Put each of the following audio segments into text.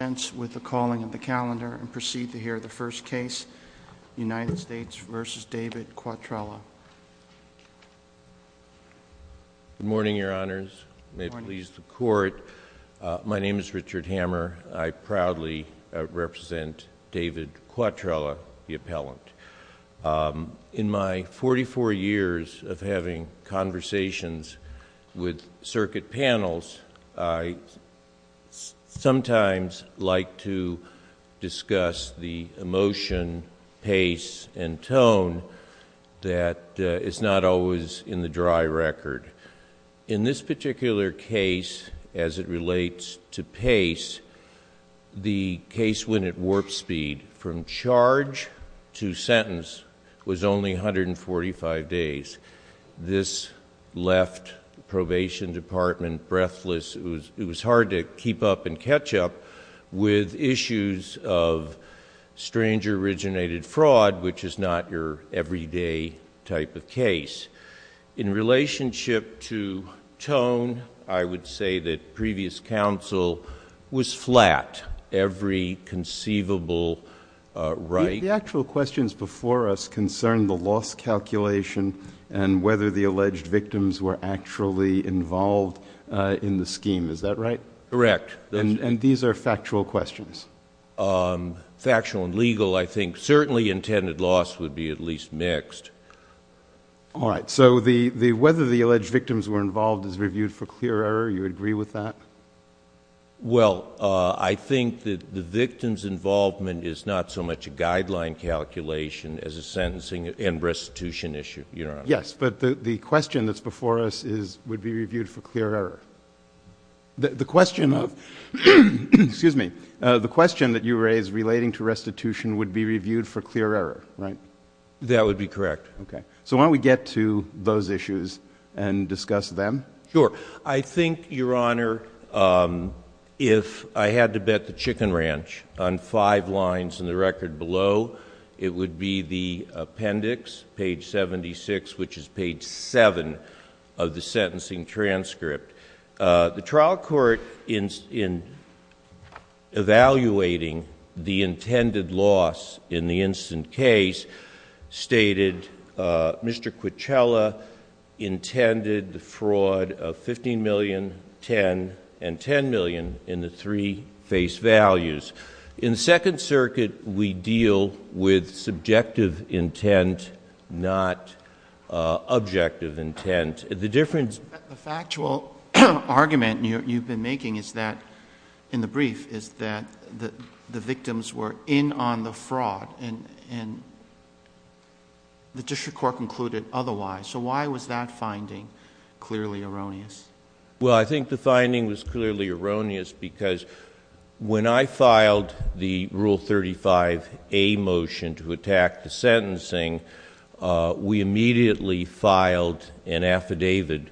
Good morning, your honors. May it please the court. My name is Richard Hammer. I proudly represent David Quatrella, the appellant. In my 44 years of having conversations with you, I'd like to discuss the emotion, pace, and tone that is not always in the dry record. In this particular case, as it relates to pace, the case when it warped speed from charge to sentence was only 145 days. This left the probation department breathless. It was hard to keep up and catch up with issues of stranger originated fraud, which is not your everyday type of case. In relationship to tone, I would say that previous counsel was flat every conceivable right. The actual questions before us concerned the loss calculation and whether the alleged victims were actually involved in the scheme. Is that right? Correct. And these are factual questions? Factual and legal, I think. Certainly intended loss would be at least mixed. All right. So whether the alleged victims were involved is reviewed for clear error. You agree with that? Well, I think that the victims' involvement is not so much a guideline calculation as a sentencing and restitution issue, your honors. Yes. But the question that's before us is would be reviewed for clear error. The question of, excuse me, the question that you raised relating to restitution would be reviewed for clear error, right? That would be correct. Okay. So why don't we get to those issues and discuss them? Sure. I think, your honor, if I had to bet the chicken ranch on five lines in the record below, it would be the appendix, page 76, which is page 7 of the sentencing transcript. The trial court, in evaluating the intended loss in the instant case, stated Mr. Quicella intended the fraud of $15 million, $10 million, and $10 million in the three face values. In the Second Circuit, we deal with subjective intent, not objective intent. The difference... But the factual argument you've been making is that, in the brief, is that the victims were in on the fraud and the district court concluded otherwise. So why was that finding clearly erroneous? Well, I think the finding was clearly erroneous because when I filed the Rule 35A motion to attack the sentencing, we immediately filed an affidavit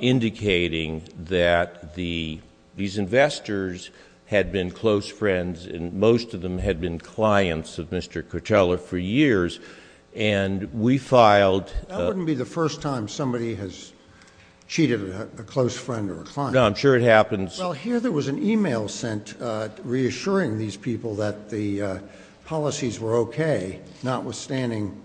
indicating that these investors had been close friends, and most of them had been clients of Mr. Quicella for years. And we filed... That wouldn't be the first time somebody has cheated a close friend or a client. No, I'm sure it happens. Well, here there was an email sent reassuring these people that the policies were okay, notwithstanding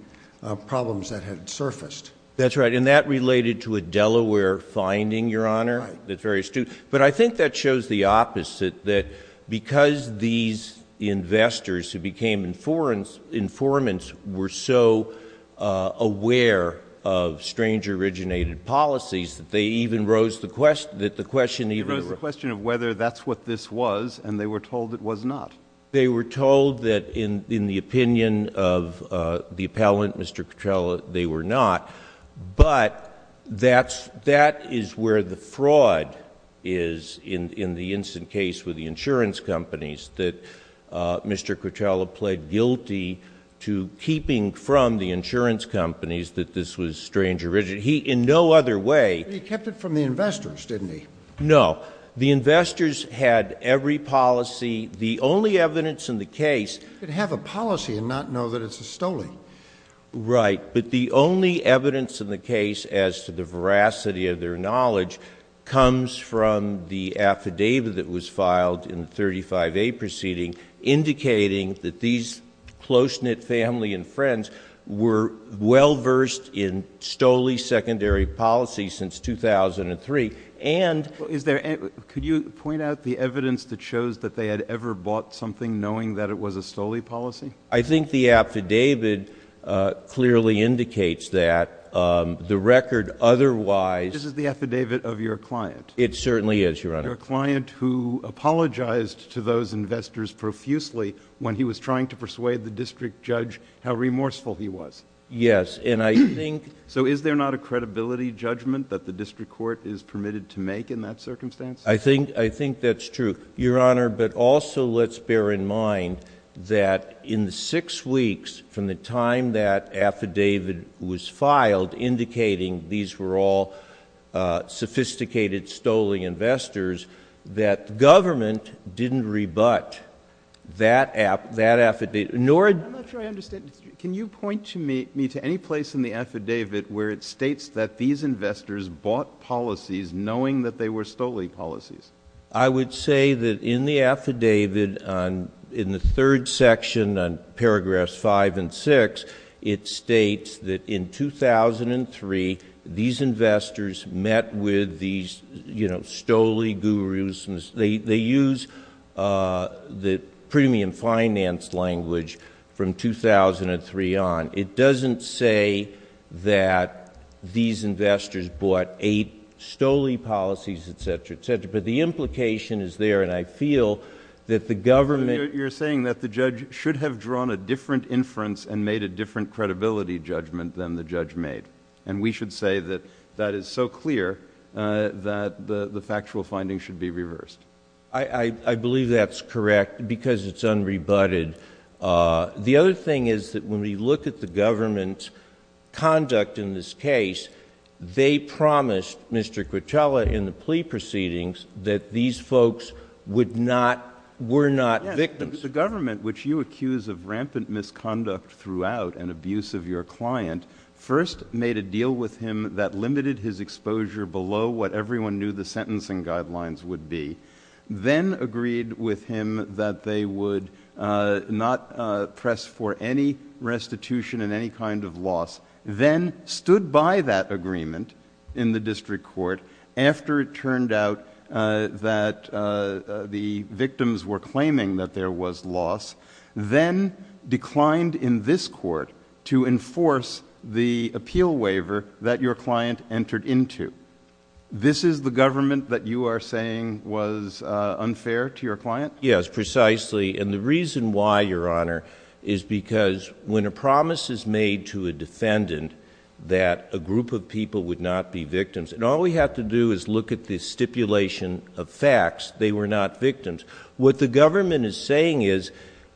problems that had surfaced. That's right. And that related to a Delaware finding, Your Honor. Right. That's very astute. But I think that shows the opposite, that because these investors who became informants were so aware of stranger-originated policies that they even rose the question... They rose the question of whether that's what this was, and they were told it was not. They were told that, in the opinion of the appellant, Mr. Quicella, they were not. But that is where the fraud is in the instant case with the insurance companies, that Mr. Quicella pled guilty to keeping from the insurance companies that this was stranger-originated. He in no other way... But he kept it from the investors, didn't he? No. The investors had every policy. The only evidence in the case... You could have a policy and not know that it's a stolen. Right. But the only evidence in the case as to the veracity of their knowledge comes from the affidavit that was filed in the 35A proceeding indicating that these close-knit family and friends were well-versed in stole-secondary policy since 2003. And... Is there... Could you point out the evidence that shows that they had ever bought something knowing that it was a stole policy? I think the affidavit clearly indicates that. The record otherwise... This is the affidavit of your client. It certainly is, Your Honor. Your client who apologized to those investors profusely when he was trying to persuade the district judge how remorseful he was. Yes. And I think... So is there not a credibility judgment that the district court is permitted to make in that circumstance? I think that's true, Your Honor. But also let's bear in mind that in the six weeks from the time that affidavit was filed indicating these were all sophisticated, stolen investors, that government didn't rebut that affidavit, nor... I'm not sure I understand. Can you point me to any place in the affidavit where it states that these investors bought policies knowing that they were stole policies? I would say that in the affidavit in the third section on paragraphs five and six, it states that in 2003, these investors met with these, you know, stole gurus. They use the premium finance language from 2003 on. It doesn't say that these investors bought eight stole policies, et cetera, et cetera. But the implication is there, and I feel that the government... You're saying that the judge should have drawn a different inference and made a different credibility judgment than the judge made. And we should say that that is so clear that the factual findings should be reversed. I believe that's correct because it's unrebutted. The other thing is that when we look at the government's conduct in this case, they promised Mr. Quintella in the plea proceedings that these folks would not... were not victims. Yes, but the government, which you accuse of rampant misconduct throughout and abuse of your client, first made a deal with him that limited his exposure below what everyone knew the sentencing guidelines would be, then agreed with him that they would not press for any restitution and any kind of loss, then stood by that agreement in the district court after it turned out that the victims were claiming that there was loss, then declined in this court to enforce the appeal waiver that your client entered into. This is the government that you are saying was unfair to your client? Yes, precisely. And the reason why, Your Honor, is because when a promise is made to a defendant that a group of people would not be victims... and all we have to do is look at this stipulation of facts, they were not victims. What the government is saying is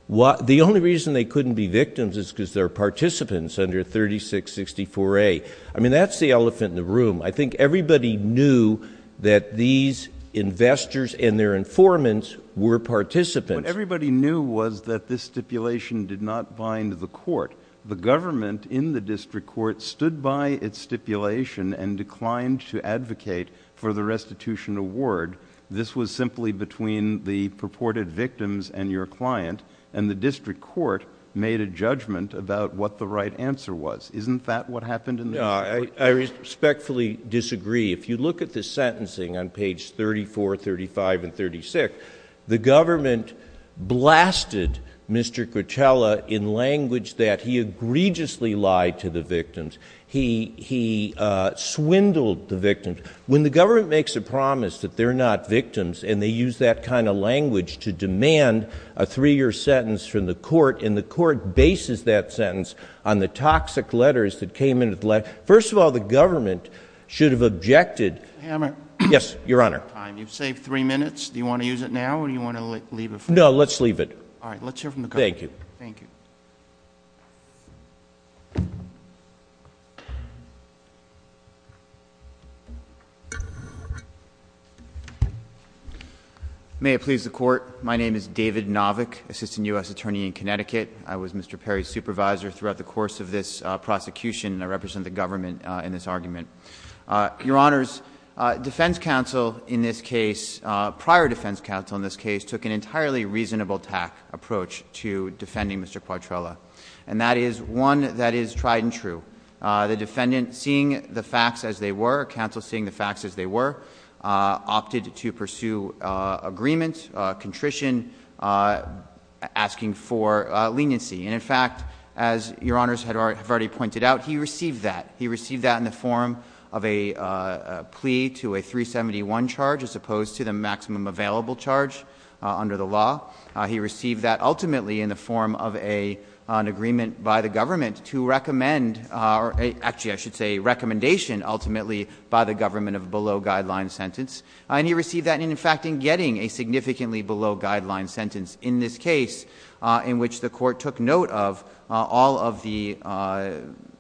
the only reason they couldn't be victims is because they're participants under 3664A. I mean, that's the elephant in the room. I think everybody knew that these investors and their informants were participants. What everybody knew was that this stipulation did not bind the court. The government in the district court stood by its stipulation and declined to advocate for the restitution award. This was simply between the purported victims and your client, and the district court made a judgment about what the right answer was. Isn't that what happened in the district court? I respectfully disagree. If you look at the sentencing on page 34, 35, and 36, the government blasted Mr. Grutella in language that he egregiously lied to the victims. He swindled the victims. When the government makes a promise that they're not victims, and they use that kind of language to demand a three-year sentence from the court, and the court bases that sentence on the toxic letters that came in at the last... First of all, the government should have objected... Mr. Hammer. Yes, Your Honor. You've saved three minutes. Do you want to use it now, or do you want to leave it for the court? No, let's leave it. All right. Let's hear from the court. Thank you. Thank you. May it please the Court, my name is David Novick, Assistant U.S. Attorney in Connecticut. I was Mr. Perry's supervisor throughout the course of this prosecution, and I represent the government in this argument. Your Honors, defense counsel in this case, prior defense counsel in this case, took an entirely reasonable attack approach to defending Mr. Quatrella, and that is one that is tried and true. The defendant, seeing the facts as they were, counsel seeing the facts as And, in fact, as Your Honors have already pointed out, he received that. He received that in the form of a plea to a 371 charge, as opposed to the maximum available charge under the law. He received that, ultimately, in the form of an agreement by the government to recommend... actually, I should say recommendation, ultimately, by the government of a below-guideline sentence. And he received that, in fact, in getting a significantly below-guideline sentence in this case, in which the court took note of all of the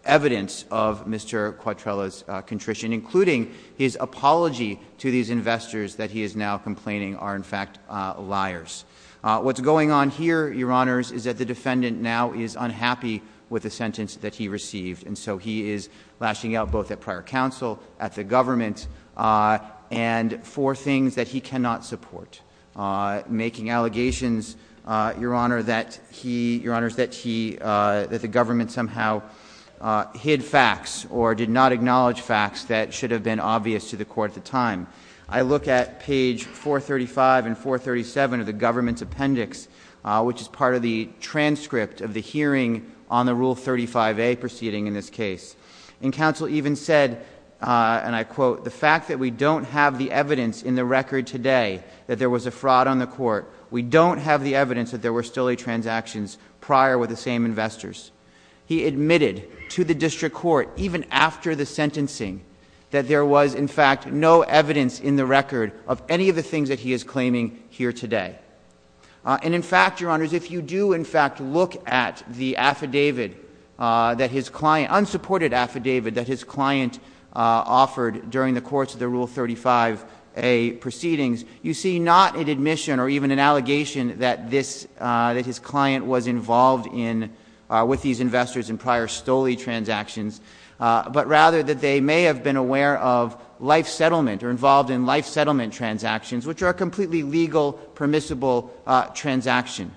evidence of Mr. Quatrella's contrition, including his apology to these investors that he is now complaining are, in fact, liars. What's going on here, Your Honors, is that the defendant now is unhappy with the sentence that he received, and so he is lashing out both at prior counsel, at the government, and for things that he cannot support, making allegations, Your Honor, that he... Your Honors, that he... that the government somehow hid facts or did not acknowledge facts that should have been obvious to the court at the time. I look at page 435 and 437 of the government's appendix, which is part of the transcript of the hearing on the Rule 35a proceeding in this case. And counsel even said, and I quote, the fact that we don't have the evidence in the record today that there was a fraud on the court, we don't have the evidence that there were stealing transactions prior with the same investors. He admitted to the district court, even after the sentencing, that there was, in fact, no evidence in the record of any of the things that he is claiming here today. And, in fact, Your Honors, if you do, in fact, look at the affidavit that his client, unsupported affidavit that his client offered during the course of the Rule 35a proceedings, you see not an admission or even an allegation that this, that his client was involved in, with these investors in prior stole-y transactions, but rather that they may have been aware of life settlement or involved in life settlement transactions, which are a completely legal permissible transaction.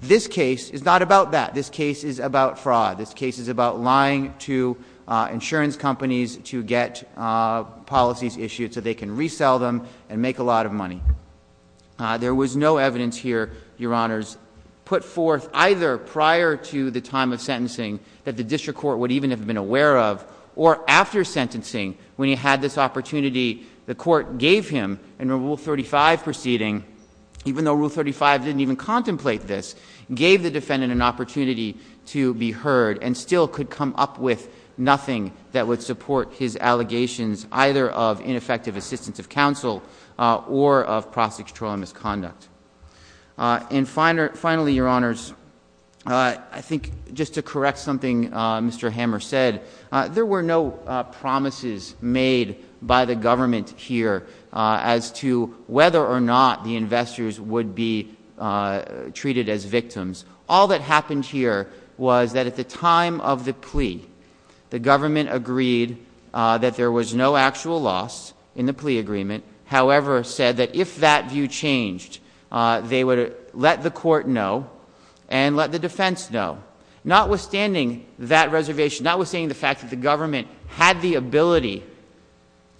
This case is not about that. This case is about fraud. This case is about lying to insurance companies to get policies issued so they can resell them and make a lot of money. There was no evidence here, Your Honors, put forth either prior to the time of sentencing that the district court would even have been aware of, or after sentencing, when he had this opportunity, the court gave him in a Rule 35 proceeding, even though Rule 35 didn't even contemplate this, gave the defendant an opportunity to be heard and still could come up with nothing that would support his allegations either of ineffective assistance of counsel or of prosecutorial misconduct. And finally, Your Honors, I think just to correct something Mr. Hammer said, there were no promises made by the government here as to whether or not the investors would be treated as victims. All that happened here was that at the time of the plea, the government agreed that there was no actual loss in the plea agreement, however said that if that view changed, they would let the court know and let the defense know. Notwithstanding that reservation, notwithstanding the fact that the government had the ability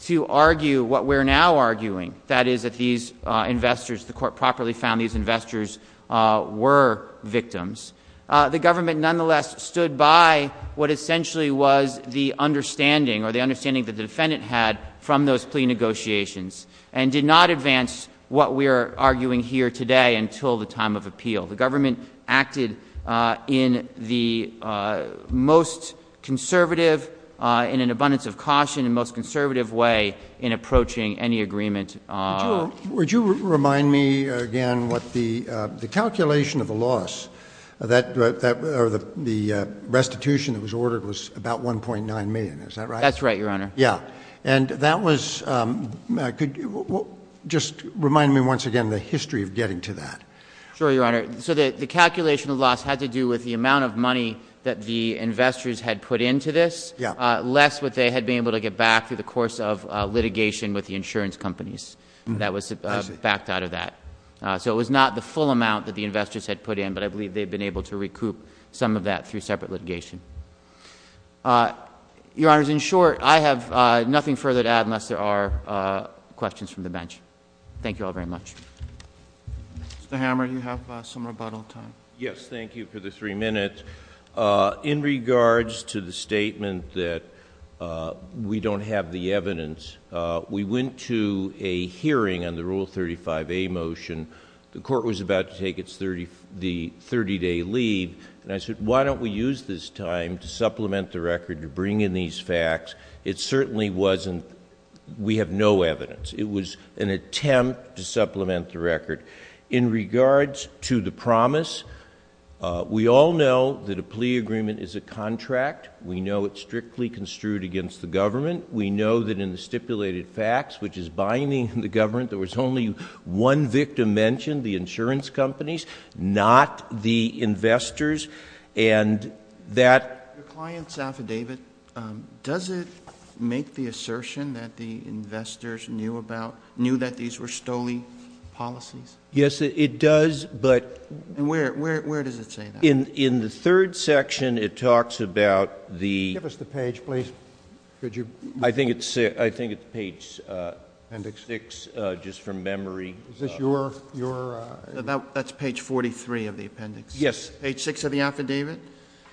to argue what we're now arguing, that is that these investors, the court properly found these investors were victims, the government nonetheless stood by what essentially was the understanding or the understanding that the defendant had from those plea negotiations and did not advance what we are arguing here today until the time of appeal. The government acted in the most conservative, in an abundance of caution and most conservative way in approaching any agreement. Would you remind me again what the calculation of the loss, the restitution that was ordered was about 1.9 million, is that right? That's right, Your Honor. Yeah. And that was, could you just remind me once again the history of getting to that? Sure, Your Honor. So the calculation of the loss had to do with the amount of money that the investors had put into this, less what they had been able to get back through the course of litigation with the insurance companies that was backed out of that. So it was not the full amount that the investors had put in, but I believe they've been able to recoup some of that through separate litigation. Your Honors, in short, I have nothing further to add unless there are questions from the bench. Thank you all very much. Mr. Hammer, you have some rebuttal time. Yes, thank you for the three minutes. In regards to the statement that we don't have the evidence, we went to a hearing on the Rule 35A motion. The court was about to take the thirty-day leave, and I said, why don't we use this time to supplement the record, to bring in these facts? It certainly wasn't, we have no evidence. It was an attempt to supplement the record. In regards to the promise, we all know that a plea agreement is a contract. We know it's strictly construed against the government. We know that in the stipulated facts, which is binding the government, there was only one victim mentioned, the insurance companies, not the investors, and that...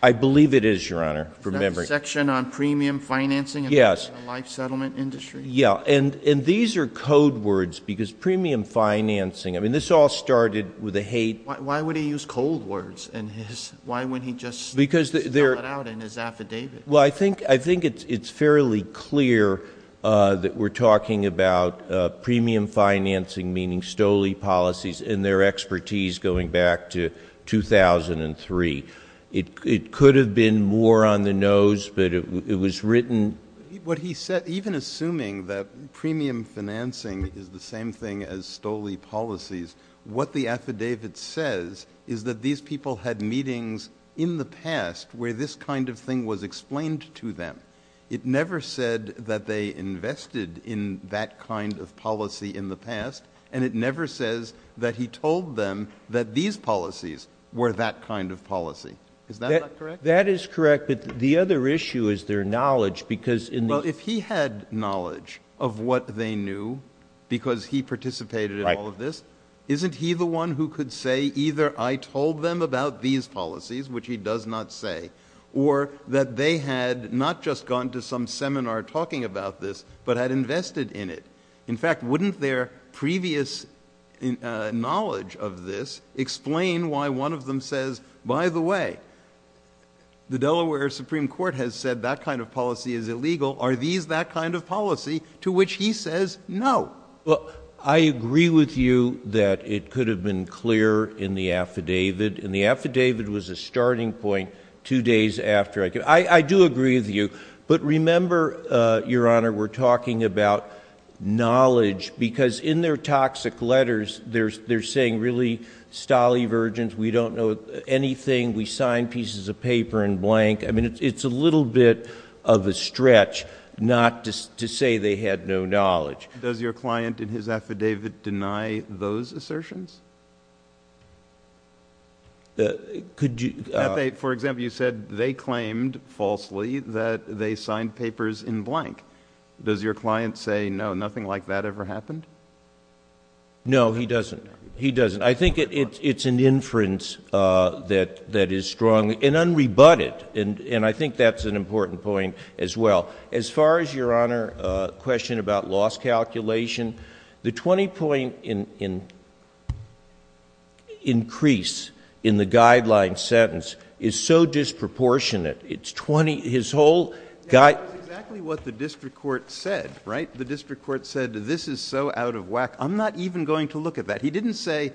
I believe it is, Your Honor, from memory. Is that the section on premium financing in the life settlement industry? Yes, and these are code words, because premium financing... I mean, this all started with a hate... Why would he use code words in his... why wouldn't he just spell it out in his affidavit? Well, I think it's fairly clear that we're talking about premium financing, meaning STOLE policies and their expertise going back to 2003. It could have been more on the nose, but it was written... What he said, even assuming that premium financing is the same thing as STOLE policies, what the affidavit says is that these people had meetings in the past where this kind of thing was explained to them. It never said that they invested in that kind of policy in the past, and it never says that he told them that these policies were that kind of policy. Is that not correct? That is correct, but the other issue is their knowledge, because... Well, if he had knowledge of what they knew, because he participated in all of this, isn't he the one who could say either I told them about these policies, which he does not say, or that they had not just gone to some seminar talking about this, but had invested in it? In fact, wouldn't their previous knowledge of this explain why one of them says, by the way, the Delaware Supreme Court has said that kind of policy is illegal? Are these that kind of policy to which he says no? I agree with you that it could have been clear in the affidavit, and the affidavit was a starting point two days after. I do agree with you, but remember, Your Honor, we're talking about knowledge, because in their toxic letters, they're saying really stolly, virgins. We don't know anything. We signed pieces of paper in blank. I mean, it's a little bit of a stretch not to say they had no knowledge. Does your client in his affidavit deny those assertions? Could you... For example, you said they claimed falsely that they signed papers in blank. Does your client say no, nothing like that ever happened? No, he doesn't. He doesn't. I think it's an inference that is strong and unrebutted, and I think that's an important point as well. As far as, Your Honor, the question about loss calculation, the 20-point increase in the guideline sentence is so disproportionate. It's 20... That's exactly what the district court said, right? The district court said this is so out of whack. I'm not even going to look at that. He didn't say,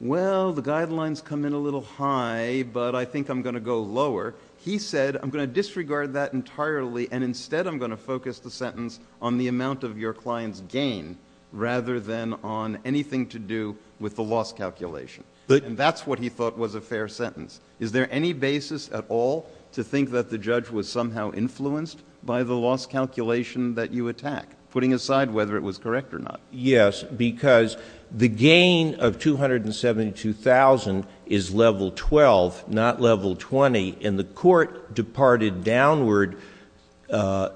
well, the guidelines come in a little high, but I think I'm going to go lower. He said, I'm going to disregard that entirely, and instead I'm going to focus the sentence on the amount of your client's gain rather than on anything to do with the loss calculation. That's what he thought was a fair sentence. Is there any basis at all to think that the judge was somehow influenced by the loss calculation that you attack, putting aside whether it was correct or not? Yes, because the gain of $272,000 is level 12, not level 20, and the court departed downward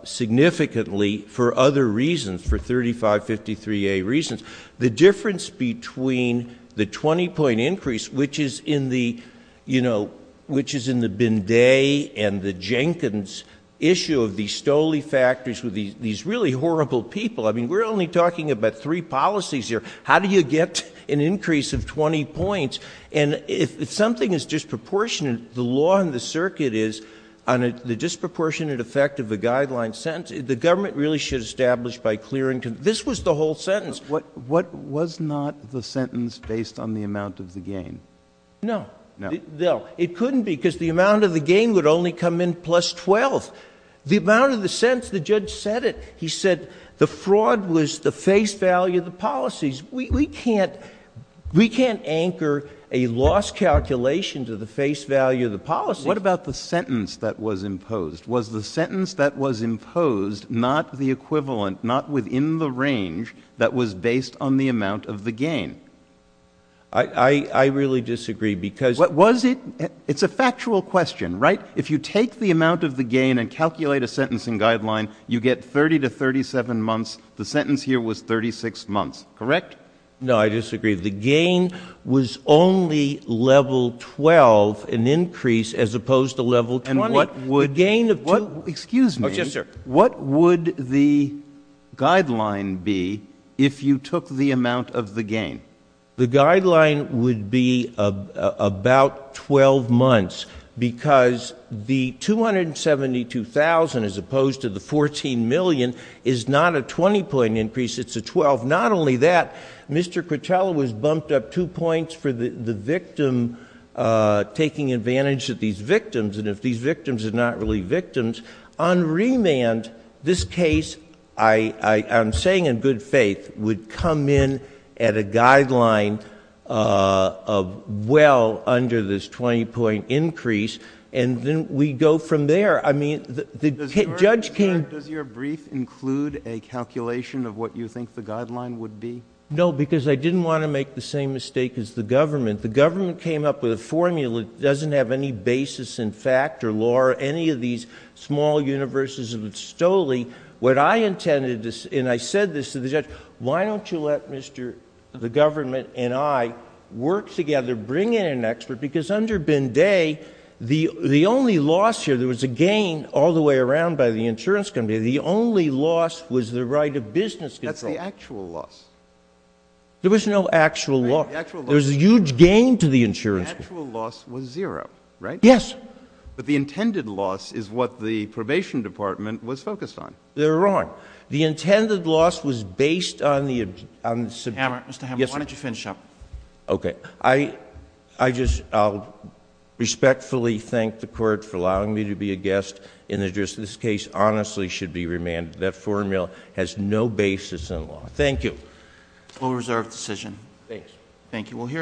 significantly for other reasons, for 3553A reasons. The difference between the 20-point increase, which is in the Binday and the Jenkins issue of these Stolle Factories with these really horrible people... I mean, we're only talking about three policies here. How do you get an increase of 20 points? And if something is disproportionate, the law in the circuit is on the disproportionate effect of a guideline sentence, the government really should establish by clearing... This was the whole sentence. What was not the sentence based on the amount of the gain? No. No. It couldn't be, because the amount of the gain would only come in plus 12. The amount of the sentence, the judge said it. He said the fraud was the face value of the policies. We can't anchor a loss calculation to the face value of the policy. What about the sentence that was imposed? Was the sentence that was imposed not the equivalent, not within the range that was based on the amount of the gain? I really disagree, because... Was it? It's a factual question, right? If you take the amount of the gain and calculate a sentencing guideline, you get 30 to 37 months. The sentence here was 36 months, correct? No, I disagree. The gain was only level 12, an increase, as opposed to level 20. And what would... The gain of... Excuse me. Yes, sir. What would the guideline be if you took the amount of the gain? The guideline would be about 12 months, because the $272,000, as opposed to the $14 million, is not a 20-point increase. It's a 12. Not only that, Mr. Cortello was bumped up two points for the victim taking advantage of these victims. And if these victims are not really victims, on remand, this case, I'm saying in good faith, would come in at a guideline of well under this 20-point increase, and then we go from there. I mean, the judge came... Does your brief include a calculation of what you think the guideline would be? No, because I didn't want to make the same mistake as the government. The government came up with a formula that doesn't have any basis in fact or law or any of these small universes of Stoley. What I intended, and I said this to the judge, why don't you let Mr.... the government and I work together, bring in an expert, because under Binday, the only loss here, there was a gain all the way around by the insurance company, the only loss was the right of business control. That's the actual loss. There was no actual loss. There was a huge gain to the insurance company. The actual loss was zero, right? Yes. But the intended loss is what the probation department was focused on. They're wrong. The intended loss was based on the... Mr. Hammer, Mr. Hammer, why don't you finish up? Okay. I just respectfully thank the Court for allowing me to be a guest in this case, honestly should be remanded. That formula has no basis in law. Full reserve decision. Thanks. Thank you.